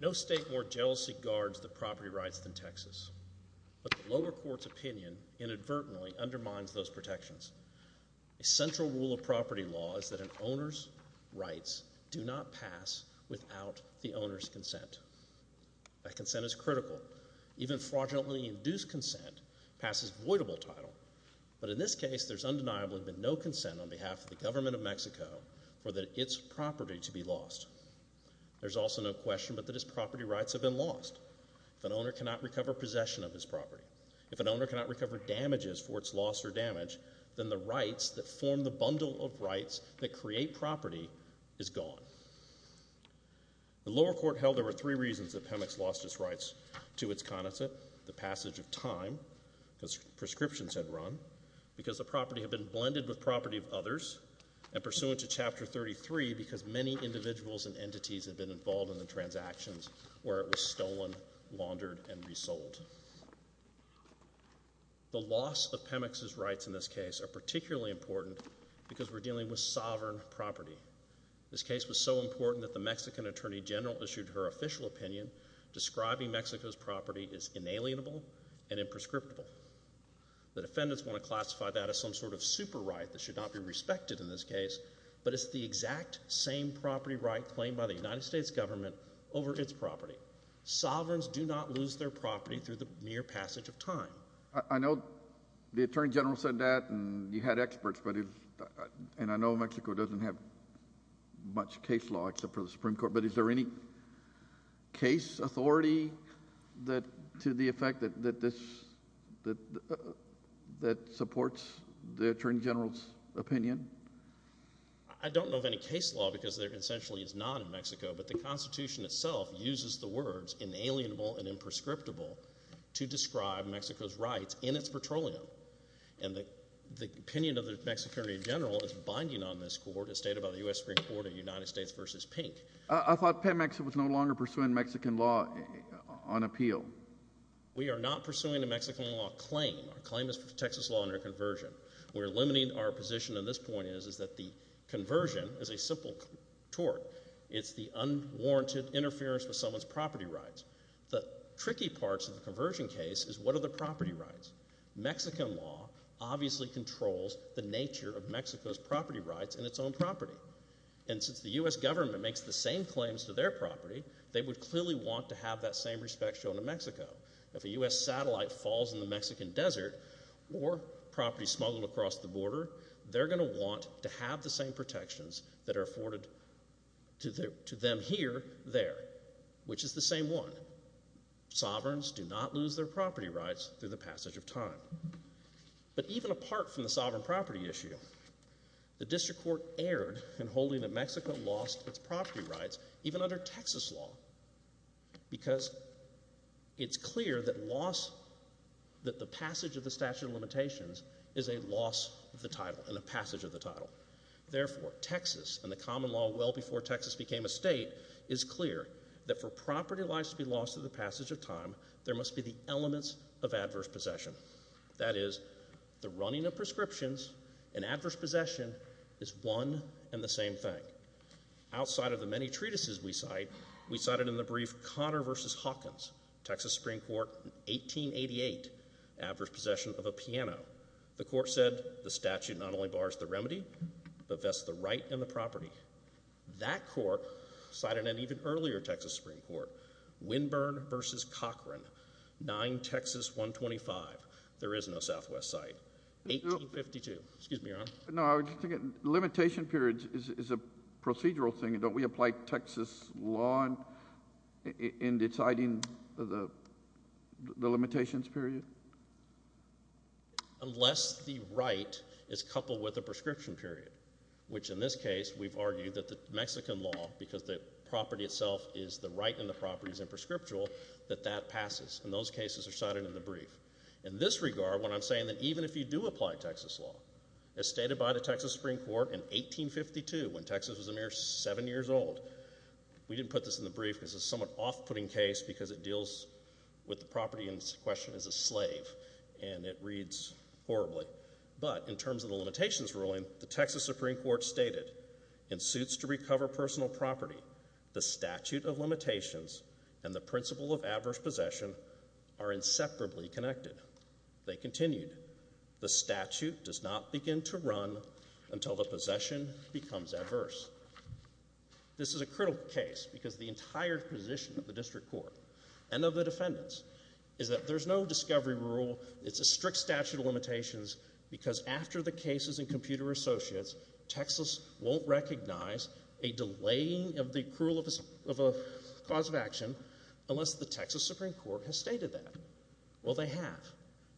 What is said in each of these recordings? No state more jealously guards the property rights than Texas. But the lower court's opinion inadvertently undermines those protections. A central rule of property law is that an owner's rights do not pass without the owner's consent. That consent is critical. Even fraudulently induced consent passes voidable title. But in this case, there's undeniably been no consent on behalf of the government of Mexico for its property to be lost. There's also no question but that its property rights have been lost. If an owner cannot recover possession of his property, if an owner cannot recover damages for its loss or damage, then the rights that form the bundle of rights that create property is gone. The lower court held there were three reasons that Pemex lost its rights to its connoisseur. The passage of time, because prescriptions had run, because the property had been blended with property of others, and pursuant to Chapter 33 because many individuals and entities had been involved in the transactions where it was stolen, laundered, and resold. The loss of Pemex's rights in this case are particularly important because we're dealing with sovereign property. This case was so important that the Mexican Attorney General issued her official opinion describing Mexico's property as inalienable and imprescriptible. The defendants want to classify that as some sort of super right that should not be respected in this case, but it's the exact same property right claimed by the United States government over its property. Sovereigns do not lose their property through the mere passage of time. I know the Attorney General said that and you had experts, and I know Mexico doesn't have much case law except for the Supreme Court, but is there any case authority to the effect that supports the Attorney General's opinion? I don't know of any case law because there essentially is none in Mexico, but the Constitution itself uses the words inalienable and imprescriptible to describe Mexico's rights in its petroleum, and the opinion of the Mexican Attorney General is binding on this court as stated by the U.S. Supreme Court in United States v. Pink. I thought Pemex was no longer pursuing Mexican law on appeal. We are not pursuing a Mexican law claim. Our claim is for Texas law under conversion. We're limiting our position on this point is that the conversion is a simple tort. It's the unwarranted interference with someone's property rights. The tricky parts of the conversion case is what are the property rights? Mexican law obviously controls the nature of Mexico's property rights in its own property, and since the U.S. government makes the same claims to their property, they would clearly want to have that same respect shown to Mexico. If a U.S. satellite falls in the Mexican desert or property smuggled across the border, they're going to want to have the same protections that are afforded to them here there, which is the same one. Sovereigns do not lose their property rights through the passage of time. But even apart from the sovereign property issue, the district court erred in holding that Mexico lost its property rights, even under Texas law, because it's clear that loss, that the passage of the statute of limitations is a loss of the title and a passage of the title. Therefore, Texas and the common law well before Texas became a state is clear that for property rights to be lost through the passage of time, there must be the elements of adverse possession. That is, the running of prescriptions and adverse possession is one and the same thing. Outside of the many treatises we cite, we cited in the brief Connor v. Hawkins, Texas Supreme Court, 1888, adverse possession of a piano. The court said the statute not only bars the remedy, but vests the right and the property. That court cited an even earlier Texas Supreme Court, Winburn v. Cochran, 9 Texas 125. There is no Southwest site. 1852. Excuse me, Your Honor. No, I was just thinking the limitation period is a procedural thing. Don't we apply Texas law in deciding the limitations period? Unless the right is coupled with a prescription period, which in this case we've argued that the Mexican law, because the property itself is the right and the property is imprescriptial, that that passes. And those cases are cited in the brief. In this regard, what I'm saying is that even if you do apply Texas law, as stated by the Texas Supreme Court in 1852, when Texas was a mere seven years old, we didn't put this in the brief because it's a somewhat off-putting case because it deals with the property in question as a slave, and it reads horribly. But in terms of the limitations ruling, the Texas Supreme Court stated, in suits to recover personal property, the statute of limitations and the principle of adverse possession are inseparably connected. They continued, the statute does not begin to run until the possession becomes adverse. This is a critical case because the entire position of the district court and of the defendants is that there's no discovery rule, it's a strict statute of limitations because after the cases in Computer Associates, Texas won't recognize a delaying of the accrual of a cause of action unless the Texas Supreme Court has stated that. Well, they have.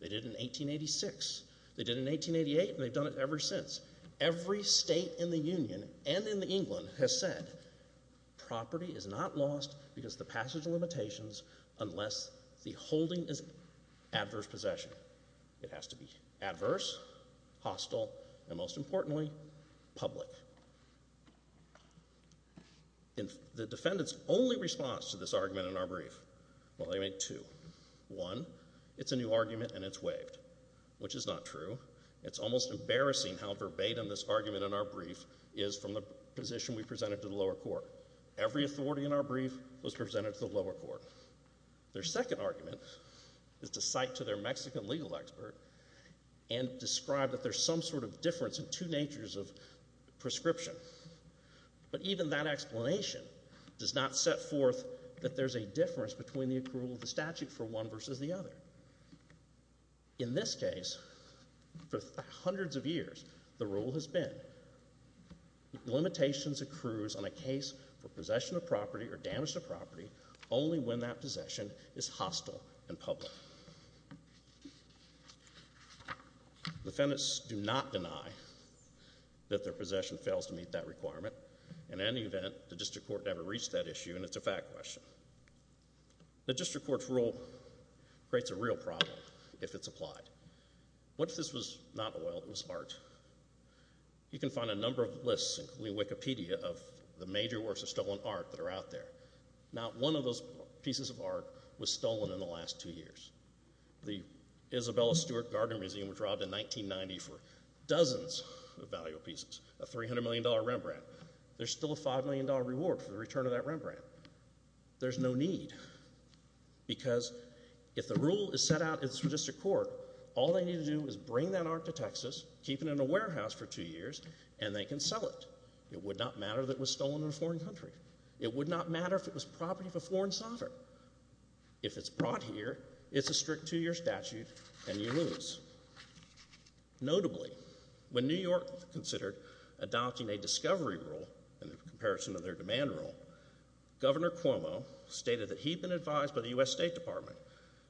They did in 1886. They did in 1888, and they've done it ever since. Every state in the Union and in England has said property is not lost because of the passage of limitations unless the holding is adverse possession. It has to be adverse, hostile, and most importantly, public. The defendants' only response to this argument in our brief, well, they make two. One, it's a new argument and it's waived, which is not true. It's almost embarrassing how verbatim this argument in our brief is from the position we presented to the lower court. Every authority in our brief was presented to the lower court. Their second argument is to cite to their Mexican legal expert and describe that there's some sort of difference in two natures of prescription. But even that explanation does not set forth that there's a difference between the accrual of the statute for one versus the other. In this case, for hundreds of years, the rule has been limitations accrues on a case for possession of property or damage to property only when that possession is hostile and public. Defendants do not deny that their possession fails to meet that requirement. In any event, the district court never reached that issue and it's a fact question. The district court's rule creates a real problem if it's applied. What if this was not oil, it was art? You can find a number of lists, including Wikipedia, of the major works of stolen art that are out there. Not one of those pieces of art was stolen in the last two years. The Isabella Stewart Garden Museum was robbed in 1990 for dozens of valuable pieces, a $300 million Rembrandt. There's still a $5 million reward for the return of that Rembrandt. There's no need because if the rule is set out in the district court, all they need to do is bring that art to Texas, keep it in a warehouse for two years, and they can sell it. It would not matter that it was stolen in a foreign country. It would not matter if it was property of a foreign sovereign. If it's brought here, it's a strict two-year statute and you lose. Notably, when New York considered adopting a discovery rule in comparison to their demand rule, Governor Cuomo stated that he'd been advised by the U.S. State Department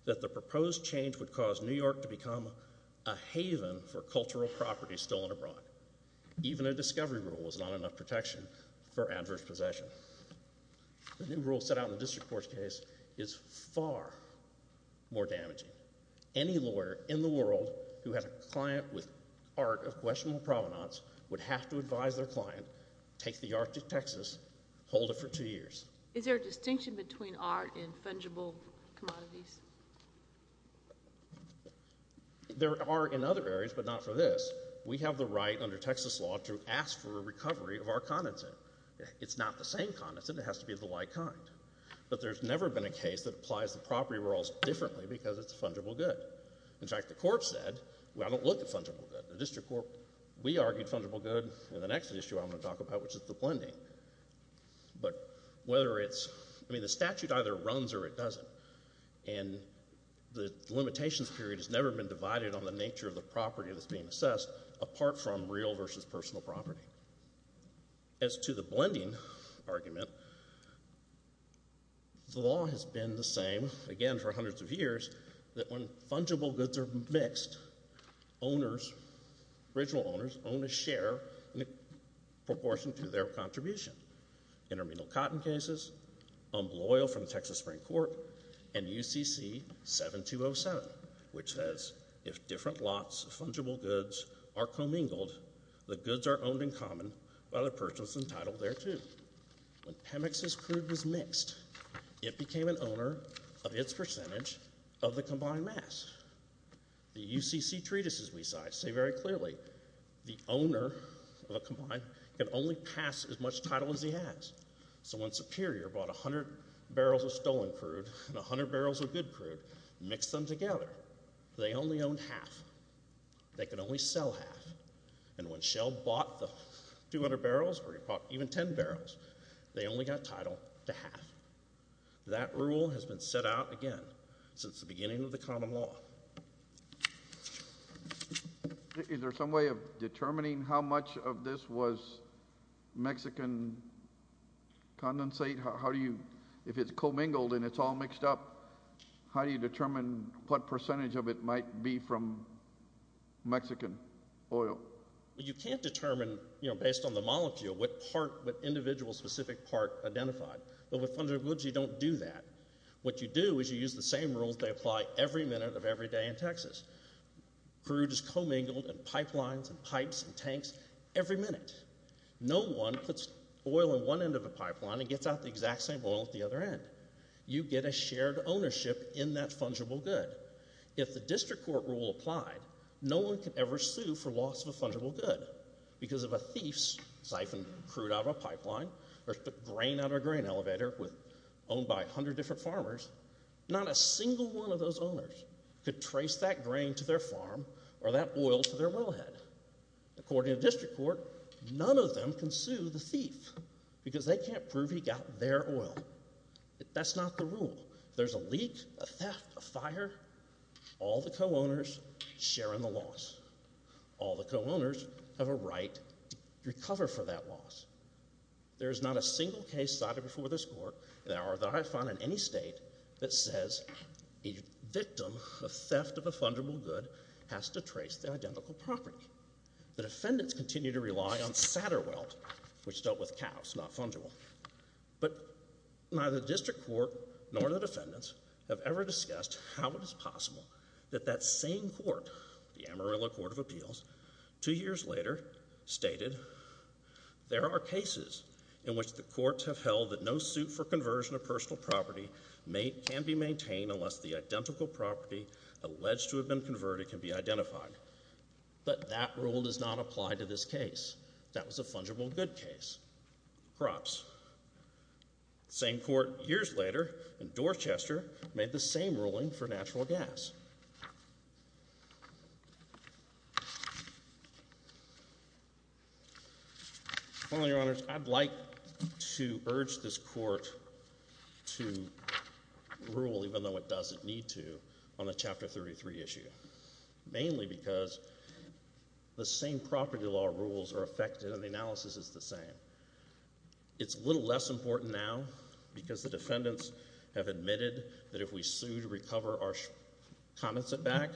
that the proposed change would cause New York to become a haven for cultural property stolen abroad. Even a discovery rule was not enough protection for adverse possession. The new rule set out in the district court's case is far more damaging. Any lawyer in the world who had a client with art of questionable provenance would have to advise their client, take the art to Texas, hold it for two years. Is there a distinction between art and fungible commodities? There are in other areas, but not for this. We have the right under Texas law to ask for a recovery of our condensate. It's not the same condensate. It has to be of the like kind. But there's never been a case that applies the property rules differently because it's fungible good. In fact, the court said, well, I don't look at fungible good. The district court, we argued fungible good, and the next issue I'm going to talk about, which is the blending. But whether it's, I mean, the statute either runs or it doesn't, and the limitations period has never been divided on the nature of the property that's being assessed apart from real versus personal property. As to the blending argument, the law has been the same, again, for hundreds of years, that when fungible goods are mixed, original owners own a share in proportion to their contribution. Intermedial cotton cases, umbel oil from the Texas Supreme Court, and UCC 7207, which says, if different lots of fungible goods are commingled, the goods are owned in common by the person entitled thereto. When Pemex's crude was mixed, it became an owner of its percentage of the combined mass. The UCC treatises, we cite, say very clearly, the owner of a combined can only pass as much title as he has. So when Superior bought 100 barrels of stolen crude and 100 barrels of good crude and mixed them together, they only owned half. They could only sell half. And when Shell bought the 200 barrels or even 10 barrels, they only got title to half. That rule has been set out again since the beginning of the common law. Is there some way of determining how much of this was Mexican condensate? How do you, if it's commingled and it's all mixed up, how do you determine what percentage of it might be from Mexican oil? You can't determine, you know, based on the molecule, what part, what individual specific part identified. But with fungible goods, you don't do that. What you do is you use the same rules they apply every minute of every day in Texas. Crude is commingled in pipelines and pipes and tanks every minute. No one puts oil in one end of a pipeline and gets out the exact same oil at the other end. You get a shared ownership in that fungible good. If the district court rule applied, no one could ever sue for loss of a fungible good because if a thief siphoned crude out of a pipeline or took grain out of a grain elevator owned by 100 different farmers, not a single one of those owners could trace that grain to their farm or that oil to their wellhead. According to the district court, none of them can sue the thief because they can't prove he got their oil. That's not the rule. If there's a leak, a theft, a fire, all the co-owners share in the loss. All the co-owners have a right to recover for that loss. There is not a single case cited before this court or that I've found in any state that says a victim of theft of a fungible good has to trace the identical property. The defendants continue to rely on Satterwelt, which dealt with cows, not fungible. But neither the district court nor the defendants have ever discussed how it is possible that that same court, the Amarillo Court of Appeals, 2 years later stated, There are cases in which the courts have held that no suit for conversion of personal property can be maintained unless the identical property alleged to have been converted can be identified. But that rule does not apply to this case. That was a fungible good case. Crops. The same court years later in Dorchester made the same ruling for natural gas. Your Honor, I'd like to urge this court to rule, even though it doesn't need to, on the Chapter 33 issue. Mainly because the same property law rules are affected and the analysis is the same. It's a little less important now because the defendants have admitted that if we sue to recover our condensate back,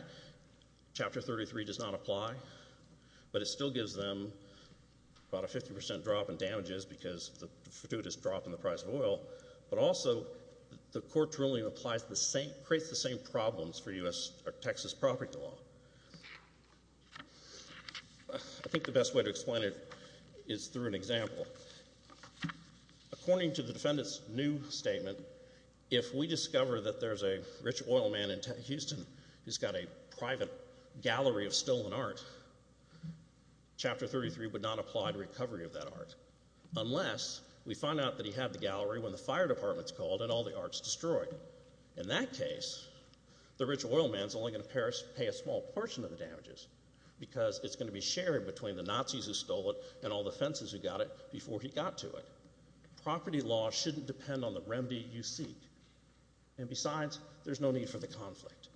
Chapter 33 does not apply. But it still gives them about a 50% drop in damages because of the gratuitous drop in the price of oil. But also, the court ruling creates the same problems for Texas property law. I think the best way to explain it is through an example. According to the defendant's new statement, if we discover that there's a rich oil man in Houston who's got a private gallery of stolen art, Chapter 33 would not apply to recovery of that art. Unless we find out that he had the gallery when the fire department's called and all the art's destroyed. In that case, the rich oil man's only going to pay a small portion of the damages because it's going to be shared between the Nazis who stole it and all the fences who got it before he got to it. Property law shouldn't depend on the remedy you seek. And besides, there's no need for the conflict.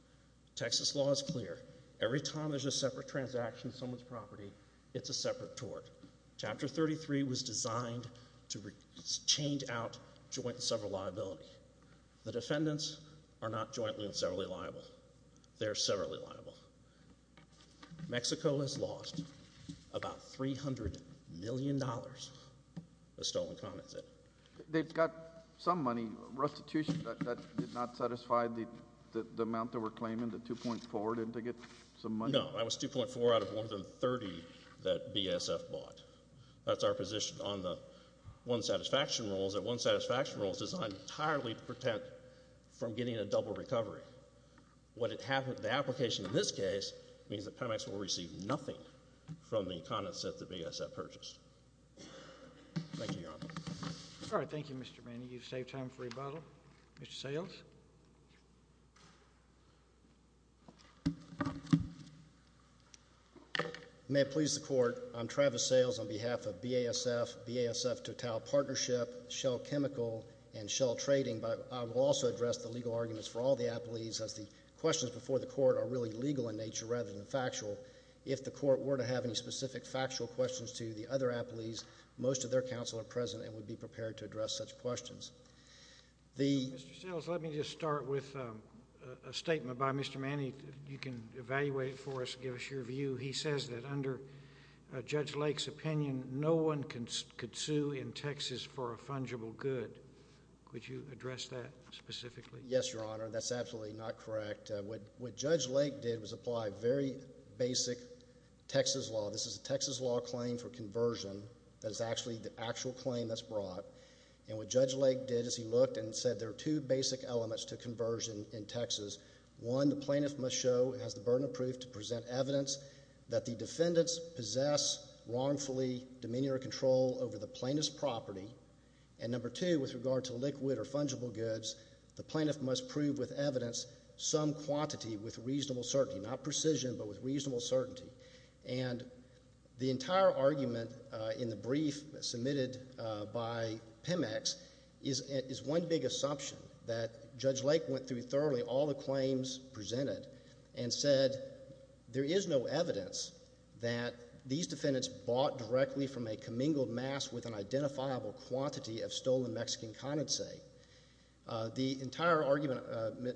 Texas law is clear. Every time there's a separate transaction in someone's property, it's a separate tort. Chapter 33 was designed to change out joint and several liability. The defendants are not jointly and severally liable. They're severally liable. Mexico has lost about $300 million of stolen condensate. They've got some money restitution that did not satisfy the amount they were claiming, the 2.4, didn't they get some money? No, that was 2.4 out of more than 30 that BSF bought. That's our position on the one satisfaction rules. That one satisfaction rule is designed entirely to prevent from getting a double recovery. The application in this case means that Pemex will receive nothing from the condensate that BSF purchased. Thank you, Your Honor. All right, thank you, Mr. Manning. You've saved time for rebuttal. Mr. Sayles. May it please the Court, I'm Travis Sayles on behalf of BASF, BASF Total Partnership, Shell Chemical, and Shell Trading, but I will also address the legal arguments for all the appellees as the questions before the Court are really legal in nature rather than factual. If the Court were to have any specific factual questions to the other appellees, most of their counsel are present and would be prepared to address such questions. Mr. Sayles, let me just start with a statement by Mr. Manning. You can evaluate it for us, give us your view. He says that under Judge Lake's opinion, no one could sue in Texas for a fungible good. Could you address that specifically? Yes, Your Honor, that's absolutely not correct. What Judge Lake did was apply very basic Texas law. This is a Texas law claim for conversion that is actually the actual claim that's brought. And what Judge Lake did is he looked and said there are two basic elements to conversion in Texas. One, the plaintiff must show and has the burden of proof to present evidence that the defendants possess wrongfully demeanor control over the plaintiff's property. And number two, with regard to liquid or fungible goods, the plaintiff must prove with evidence some quantity with reasonable certainty, not precision, but with reasonable certainty. And the entire argument in the brief submitted by PEMEX is one big assumption that Judge Lake went through thoroughly all the claims presented and said there is no evidence that these defendants bought directly from a commingled mass with an identifiable quantity of stolen Mexican condensate. The entire argument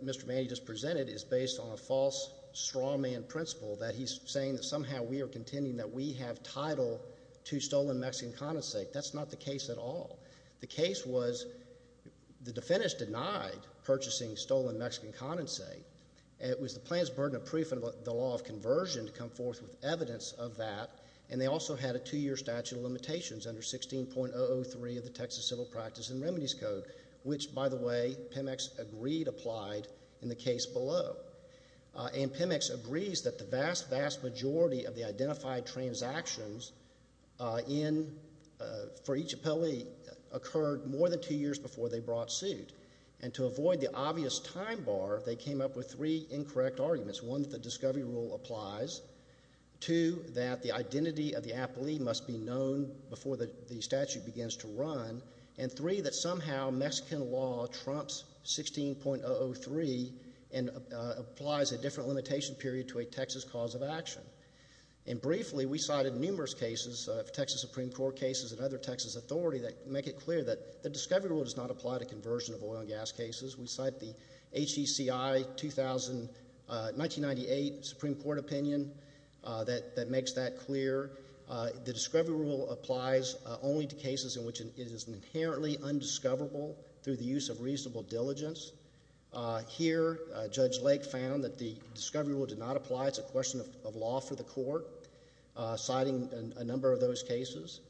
Mr. Manning just presented is based on a false strawman principle that he's saying that somehow we are contending that we have title to stolen Mexican condensate. That's not the case at all. The case was the defendants denied purchasing stolen Mexican condensate. It was the plaintiff's burden of proof in the law of conversion to come forth with evidence of that. And they also had a two-year statute of limitations under 16.003 of the Texas Civil Practice and Remedies Code, which, by the way, PEMEX agreed applied in the case below. And PEMEX agrees that the vast, vast majority of the identified transactions for each appellee occurred more than two years before they brought suit. And to avoid the obvious time bar, they came up with three incorrect arguments. One, that the discovery rule applies. Two, that the identity of the appellee must be known before the statute begins to run. And three, that somehow Mexican law trumps 16.003 and applies a different limitation period to a Texas cause of action. And briefly, we cited numerous cases of Texas Supreme Court cases and other Texas authorities that make it clear that the discovery rule does not apply to conversion of oil and gas cases. We cite the HECI 1998 Supreme Court opinion that makes that clear. The discovery rule applies only to cases in which it is inherently undiscoverable through the use of reasonable diligence. Here, Judge Lake found that the discovery rule did not apply. It's a question of law for the court, citing a number of those cases.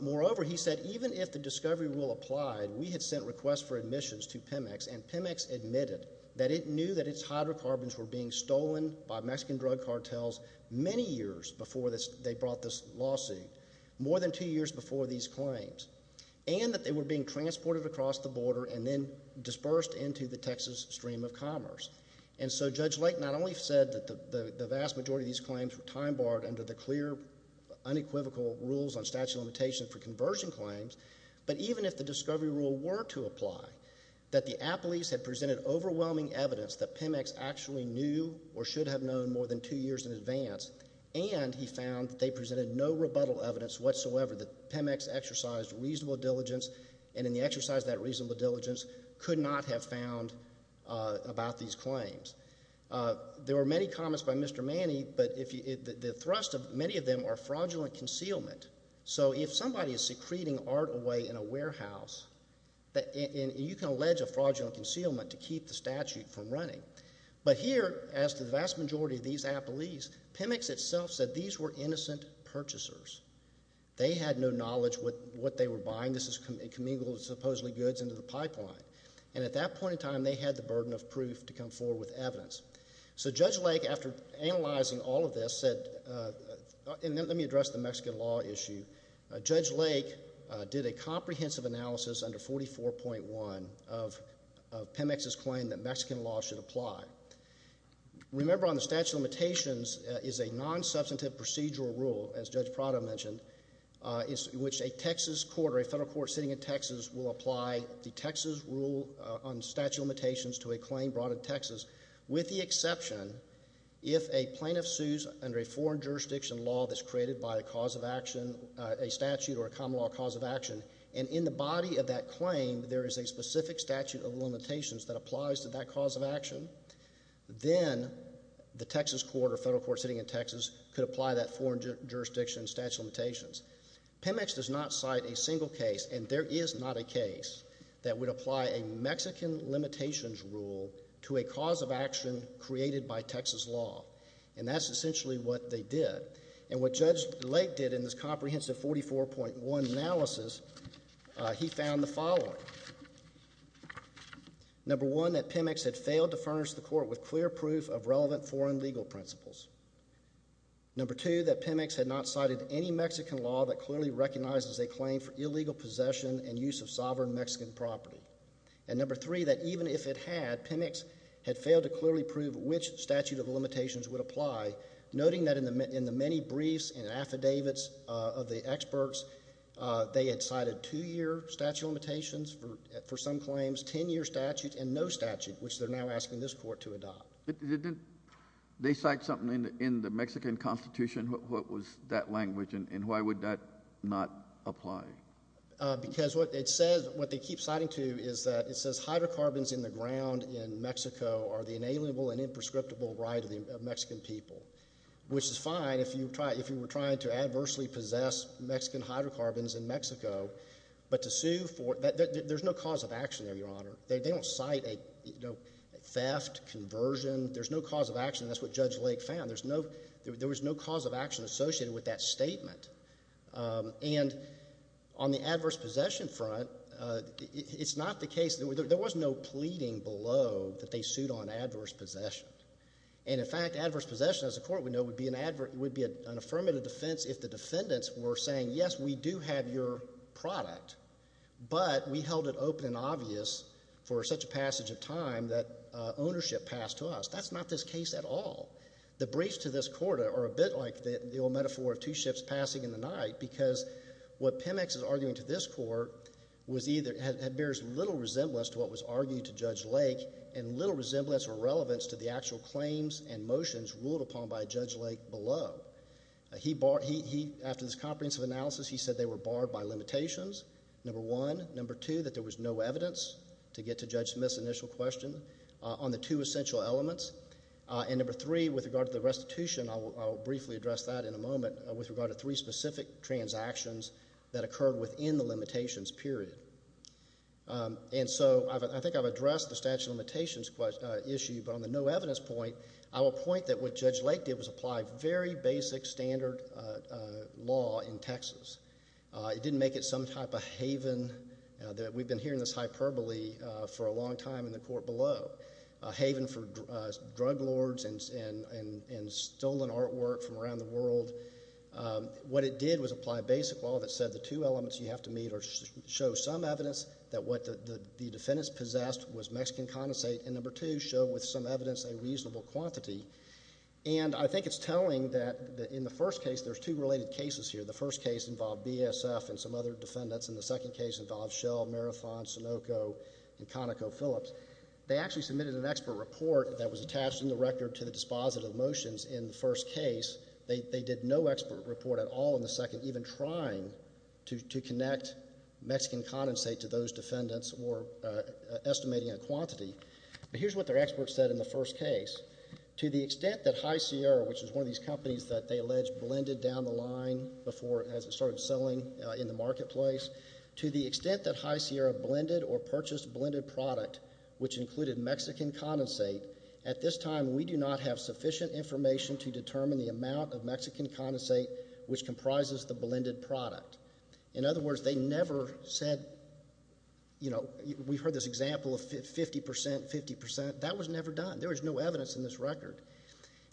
Moreover, he said, even if the discovery rule applied, we had sent requests for admissions to PEMEX, and PEMEX admitted that it knew that its hydrocarbons were being stolen by Mexican drug cartels many years before they brought this lawsuit, more than two years before these claims, and that they were being transported across the border and then dispersed into the Texas stream of commerce. And so Judge Lake not only said that the vast majority of these claims were time-barred under the clear, unequivocal rules on statute of limitation for conversion claims, but even if the discovery rule were to apply, that the appellees had presented overwhelming evidence that PEMEX actually knew or should have known more than two years in advance, and he found that they presented no rebuttal evidence whatsoever that PEMEX exercised reasonable diligence, and in the exercise of that reasonable diligence could not have found about these claims. There were many comments by Mr. Manny, but the thrust of many of them are fraudulent concealment. So if somebody is secreting art away in a warehouse, you can allege a fraudulent concealment to keep the statute from running. But here, as to the vast majority of these appellees, PEMEX itself said these were innocent purchasers. They had no knowledge what they were buying. This is commingled supposedly goods into the pipeline. And at that point in time, they had the burden of proof to come forward with evidence. So Judge Lake, after analyzing all of this, said, and let me address the Mexican law issue. Judge Lake did a comprehensive analysis under 44.1 of PEMEX's claim that Mexican law should apply. Remember on the statute of limitations is a non-substantive procedural rule, as Judge Prado mentioned, in which a Texas court or a federal court sitting in Texas will apply the Texas rule on statute of limitations to a claim brought in Texas with the exception if a plaintiff sues under a foreign jurisdiction law that's created by a cause of action, a statute or a common law cause of action and in the body of that claim there is a specific statute of limitations that applies to that cause of action, then the Texas court or federal court sitting in Texas could apply that foreign jurisdiction statute of limitations. PEMEX does not cite a single case and there is not a case that would apply a Mexican limitations rule to a cause of action created by Texas law. And that's essentially what they did. And what Judge Lake did in this comprehensive 44.1 analysis, he found the following. Number one, that PEMEX had failed to furnish the court with clear proof of relevant foreign legal principles. Number two, that PEMEX had not cited any Mexican law that clearly recognizes a claim for illegal possession and use of sovereign Mexican property. And number three, that even if it had, PEMEX had failed to clearly prove which statute of limitations would apply, noting that in the many briefs and affidavits of the experts, they had cited two-year statute of limitations for some claims, ten-year statute and no statute, which they're now asking this court to adopt. They cite something in the Mexican Constitution, what was that language and why would that not apply? Because what it says, what they keep citing to is that it says hydrocarbons in the ground in Mexico are the inalienable and imprescriptible right of the Mexican people. Which is fine if you were trying to adversely possess Mexican hydrocarbons in Mexico, but to sue for, there's no cause of action there, Your Honor. They don't cite a theft, conversion, there's no cause of action. That's what Judge Lake found. There was no cause of action associated with that statement. And on the adverse possession front, it's not the case, there was no pleading below that they sued on adverse possession. And in fact, adverse possession, as the court would know, would be an affirmative defense if the defendants were saying, yes, we do have your product, but we held it open and obvious for such a passage of time that ownership passed to us. That's not this case at all. The briefs to this court are a bit like the old metaphor of two ships passing in the night, because what Pemex is arguing to this court was either, bears little resemblance to what was argued to Judge Lake, and little resemblance or relevance to the actual claims and motions ruled upon by Judge Lake below. After this comprehensive analysis, he said they were barred by limitations, number one. Number two, that there was no evidence to get to Judge Smith's initial question on the two essential elements. And number three, with regard to the restitution, I'll briefly address that in a moment, with regard to three specific transactions that occurred within the limitations period. And so, I think I've addressed the statute of limitations issue, but on the no evidence point, I will point that what Judge Lake did was apply very basic standard law in Texas. It didn't make it some type of haven. We've been hearing this hyperbole for a long time in the court below. A haven for drug lords and stolen artwork from around the world. What it did was apply basic law that said the two elements you have to meet show some evidence that what the defendants possessed was Mexican condensate, and number two, show with some evidence a reasonable quantity. And I think it's telling that in the first case, there's two related cases here. The first case involved BSF and some other defendants and the second case involved Shell, Marathon, Sunoco and ConocoPhillips. They actually submitted an expert report that was attached in the record to the dispositive motions in the first case. They did no expert report at all in the second, even trying to connect Mexican condensate to those defendants or estimating a quantity. But here's what their experts said in the first case. To the extent that High Sierra, which is one of these companies that they alleged blended down the line before it started selling in the marketplace, to the extent that High Sierra blended or purchased blended product, which included Mexican condensate, at this time we do not have sufficient information to determine the amount of Mexican condensate which comprises the blended product. In other words, they never said, you know, we heard this example of 50%, 50%. That was never done. There was no evidence in this record.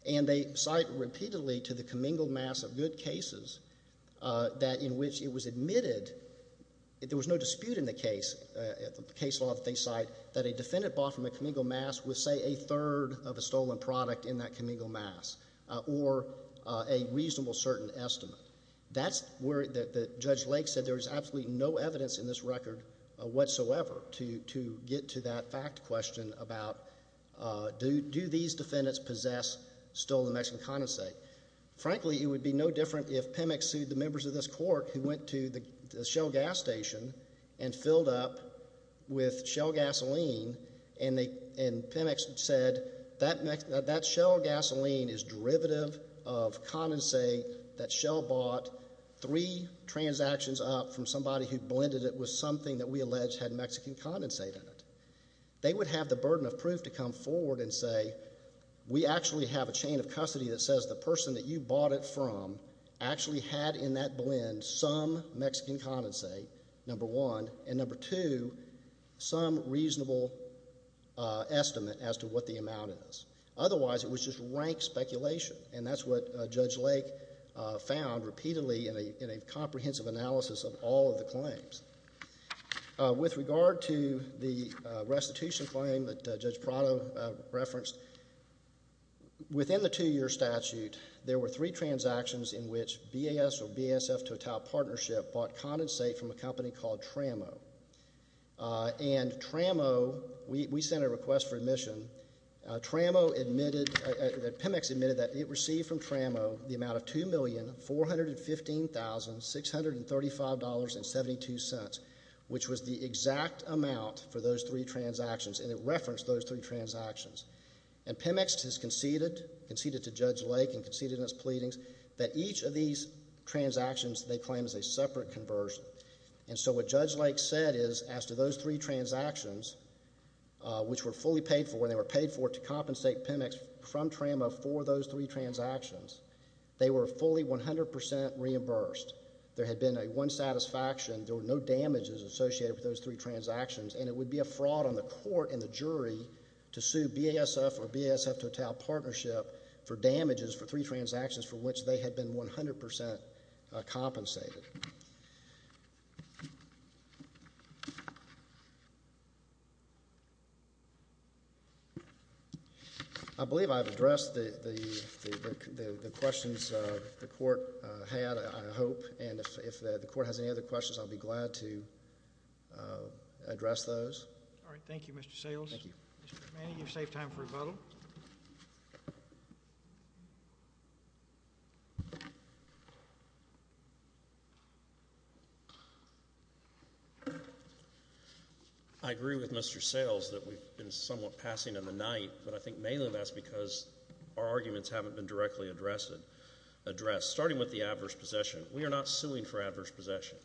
And they cite repeatedly to the commingled mass of good cases that in which it was admitted there was no dispute in the case, the case law that they cite, that a defendant bought from a commingled mass with say a third of a stolen product in that commingled mass or a reasonable certain estimate. That's where Judge Lake said there was absolutely no evidence in this record whatsoever to get to that fact question about do these defendants possess stolen Mexican condensate? Frankly, it would be no different if Pemex sued the members of this court who went to the Shell gas station and filled up with Shell gasoline and Pemex said that Shell gasoline is derivative of condensate that Shell bought three transactions up from somebody who blended it with something that we alleged had Mexican condensate in it. They would have the burden of proof to come forward and say we actually have a chain of custody that says the person that you bought it from actually had in that blend some Mexican condensate, number one, and number two, some reasonable estimate as to what the amount is. Otherwise, it was just rank speculation and that's what Judge Lake found repeatedly in a With regard to the restitution claim that Judge Prado referenced, within the two-year statute there were three transactions in which BAS or BASF Total Partnership bought condensate from a company called Tramo and Tramo we sent a request for admission. Pemex admitted that it received from Tramo the amount of $2,415,635.72. Which was the exact amount for those three transactions and it referenced those three transactions. And Pemex has conceded, conceded to Judge Lake and conceded in its pleadings that each of these transactions they claim is a separate conversion. And so what Judge Lake said is as to those three transactions which were fully paid for and they were paid for to compensate Pemex from Tramo for those three transactions they were fully 100% reimbursed. There had been a one satisfaction, there were no damages associated with those three transactions and it would be a fraud on the court and the jury to sue BASF or BASF Total Partnership for damages for three transactions for which they had been 100% compensated. I believe I've addressed the group and if the court has any other questions I'll be glad to address those. I agree with Mr. Sales that we've been somewhat passing in the night but I think mainly that's because our arguments haven't been directly addressed. Starting with the adverse possession, we are not suing for adverse possession.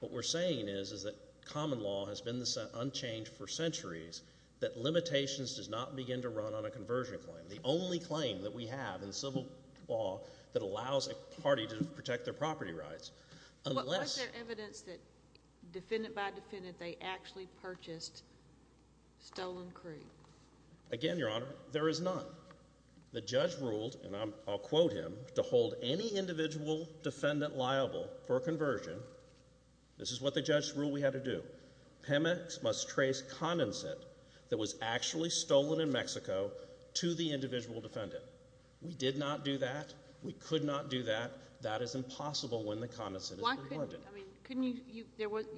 What we're saying is that common law has been unchanged for centuries that limitations does not begin to run on a conversion claim. The only claim that we have in civil law that allows a party to protect their property rights. Again, Your Honor, there is none. The judge ruled, and I'll quote him, to hold any individual defendant liable for a conversion, this is what the judge ruled we had to do, PEMEX must trace condensate that was actually stolen in Mexico to the individual defendant. We did not do that. We could not do that. That is impossible when the condensate is abundant.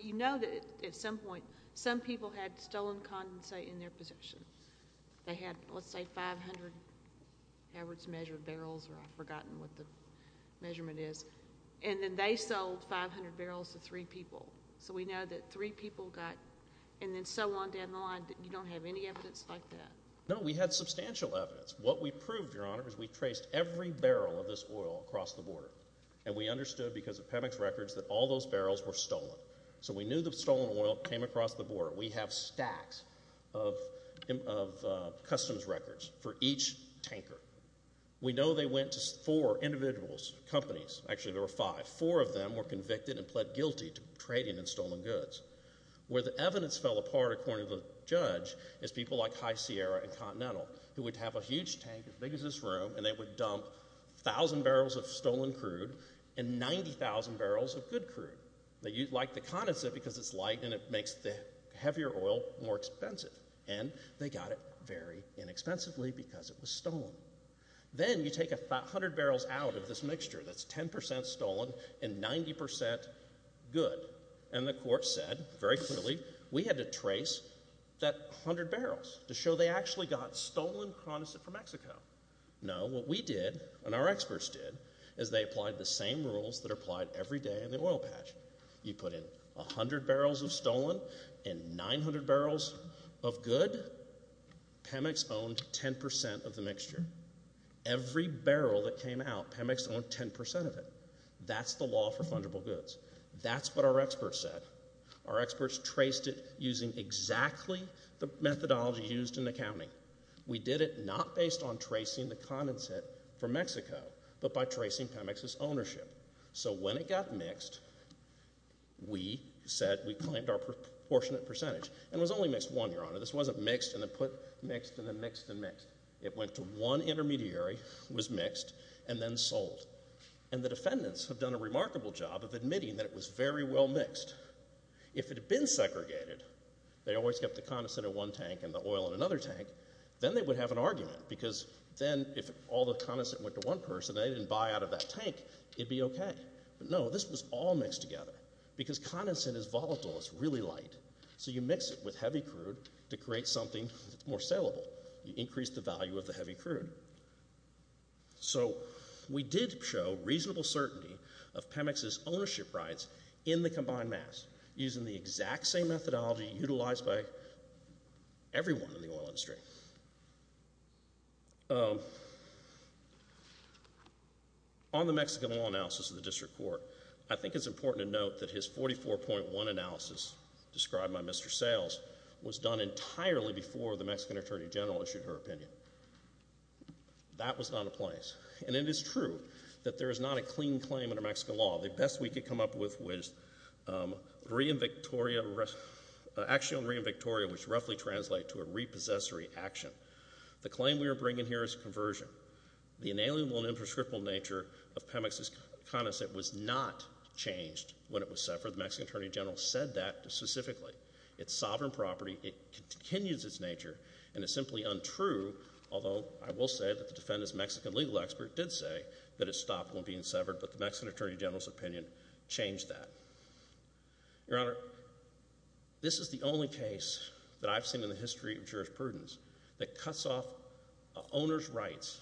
You know that at some point some people had stolen condensate in their possession. They had, let's say, 500 average measured barrels, or I've forgotten what the measurement is, and then they sold 500 barrels to three people. So we know that three people got and then so on down the line. You don't have any evidence like that? No, we had substantial evidence. What we proved, Your Honor, is we traced every barrel of this oil across the border. And we understood because of PEMEX records that all those barrels were stolen. So we knew the stolen oil came across the border. We have stacks of customs records for each tanker. We know they went to four individuals, companies. Actually, there were five. Four of them were convicted and pled guilty to trading in stolen goods. Where the evidence fell apart, according to the judge, is people like High Sierra and Continental, who would have a huge tank as big as this room and they would dump 1,000 barrels of stolen crude and 90,000 barrels of good crude. They liked the condensate because it's light and it makes the oil not vary inexpensively because it was stolen. Then you take 100 barrels out of this mixture that's 10% stolen and 90% good. And the court said very clearly we had to trace that 100 barrels to show they actually got stolen condensate from Mexico. No, what we did and our experts did is they applied the same rules that are applied every day in the oil patch. You put in 100 barrels of stolen oil and 900 barrels of good, Pemex owned 10% of the mixture. Every barrel that came out, Pemex owned 10% of it. That's the law for fungible goods. That's what our experts said. Our experts traced it using exactly the methodology used in accounting. We did it not based on tracing the condensate from Mexico, but by tracing Pemex's ownership. So when it got mixed, we said we claimed our proportionate percentage. And it was only mixed one, Your Honor. This wasn't mixed and then put mixed and then mixed and mixed. It went to one intermediary, was mixed, and then sold. And the defendants have done a remarkable job of admitting that it was very well mixed. If it had been segregated, they always kept the condensate in one tank and the oil in another tank, then they would have an argument because then if all the condensate went to one person and they didn't buy out of that tank, it'd be okay. But no, this was all mixed together because condensate is volatile. It's really light. So you mix it with heavy crude to create something that's more saleable. You increase the value of the heavy crude. So we did show reasonable certainty of Pemex's ownership rights in the combined mass using the exact same methodology utilized by everyone in the oil industry. On the Mexican law analysis of the district court, I think it's important to note that his 44.1 analysis described by Mr. Sales was done entirely before the Mexican Attorney General issued her opinion. That was not the place. And it is true that there is not a clean claim under Mexican law. The best we could come up with was re-invictoria, actually on re-invictoria which roughly translates to a repossessory action. The claim we are bringing here is conversion. The inalienable and inscriptable nature of Pemex's condensate was not changed when it was severed. The Mexican Attorney General said that specifically. It's sovereign property. It continues its nature. And it's simply untrue although I will say that the defendant's Mexican legal expert did say that it stopped when being severed. But the Mexican Attorney General's opinion changed that. Your Honor, this is the only case that I've seen in the history of jurisprudence that cuts off an owner's rights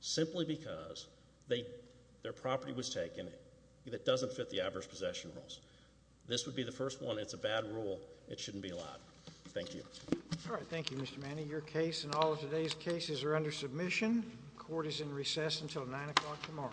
simply because their property was taken that doesn't fit the adverse possession rules. This would be the first one. It's a bad rule. It shouldn't be allowed. Thank you. Your case and all of today's cases are under submission. Court is in recess until 9 o'clock tomorrow.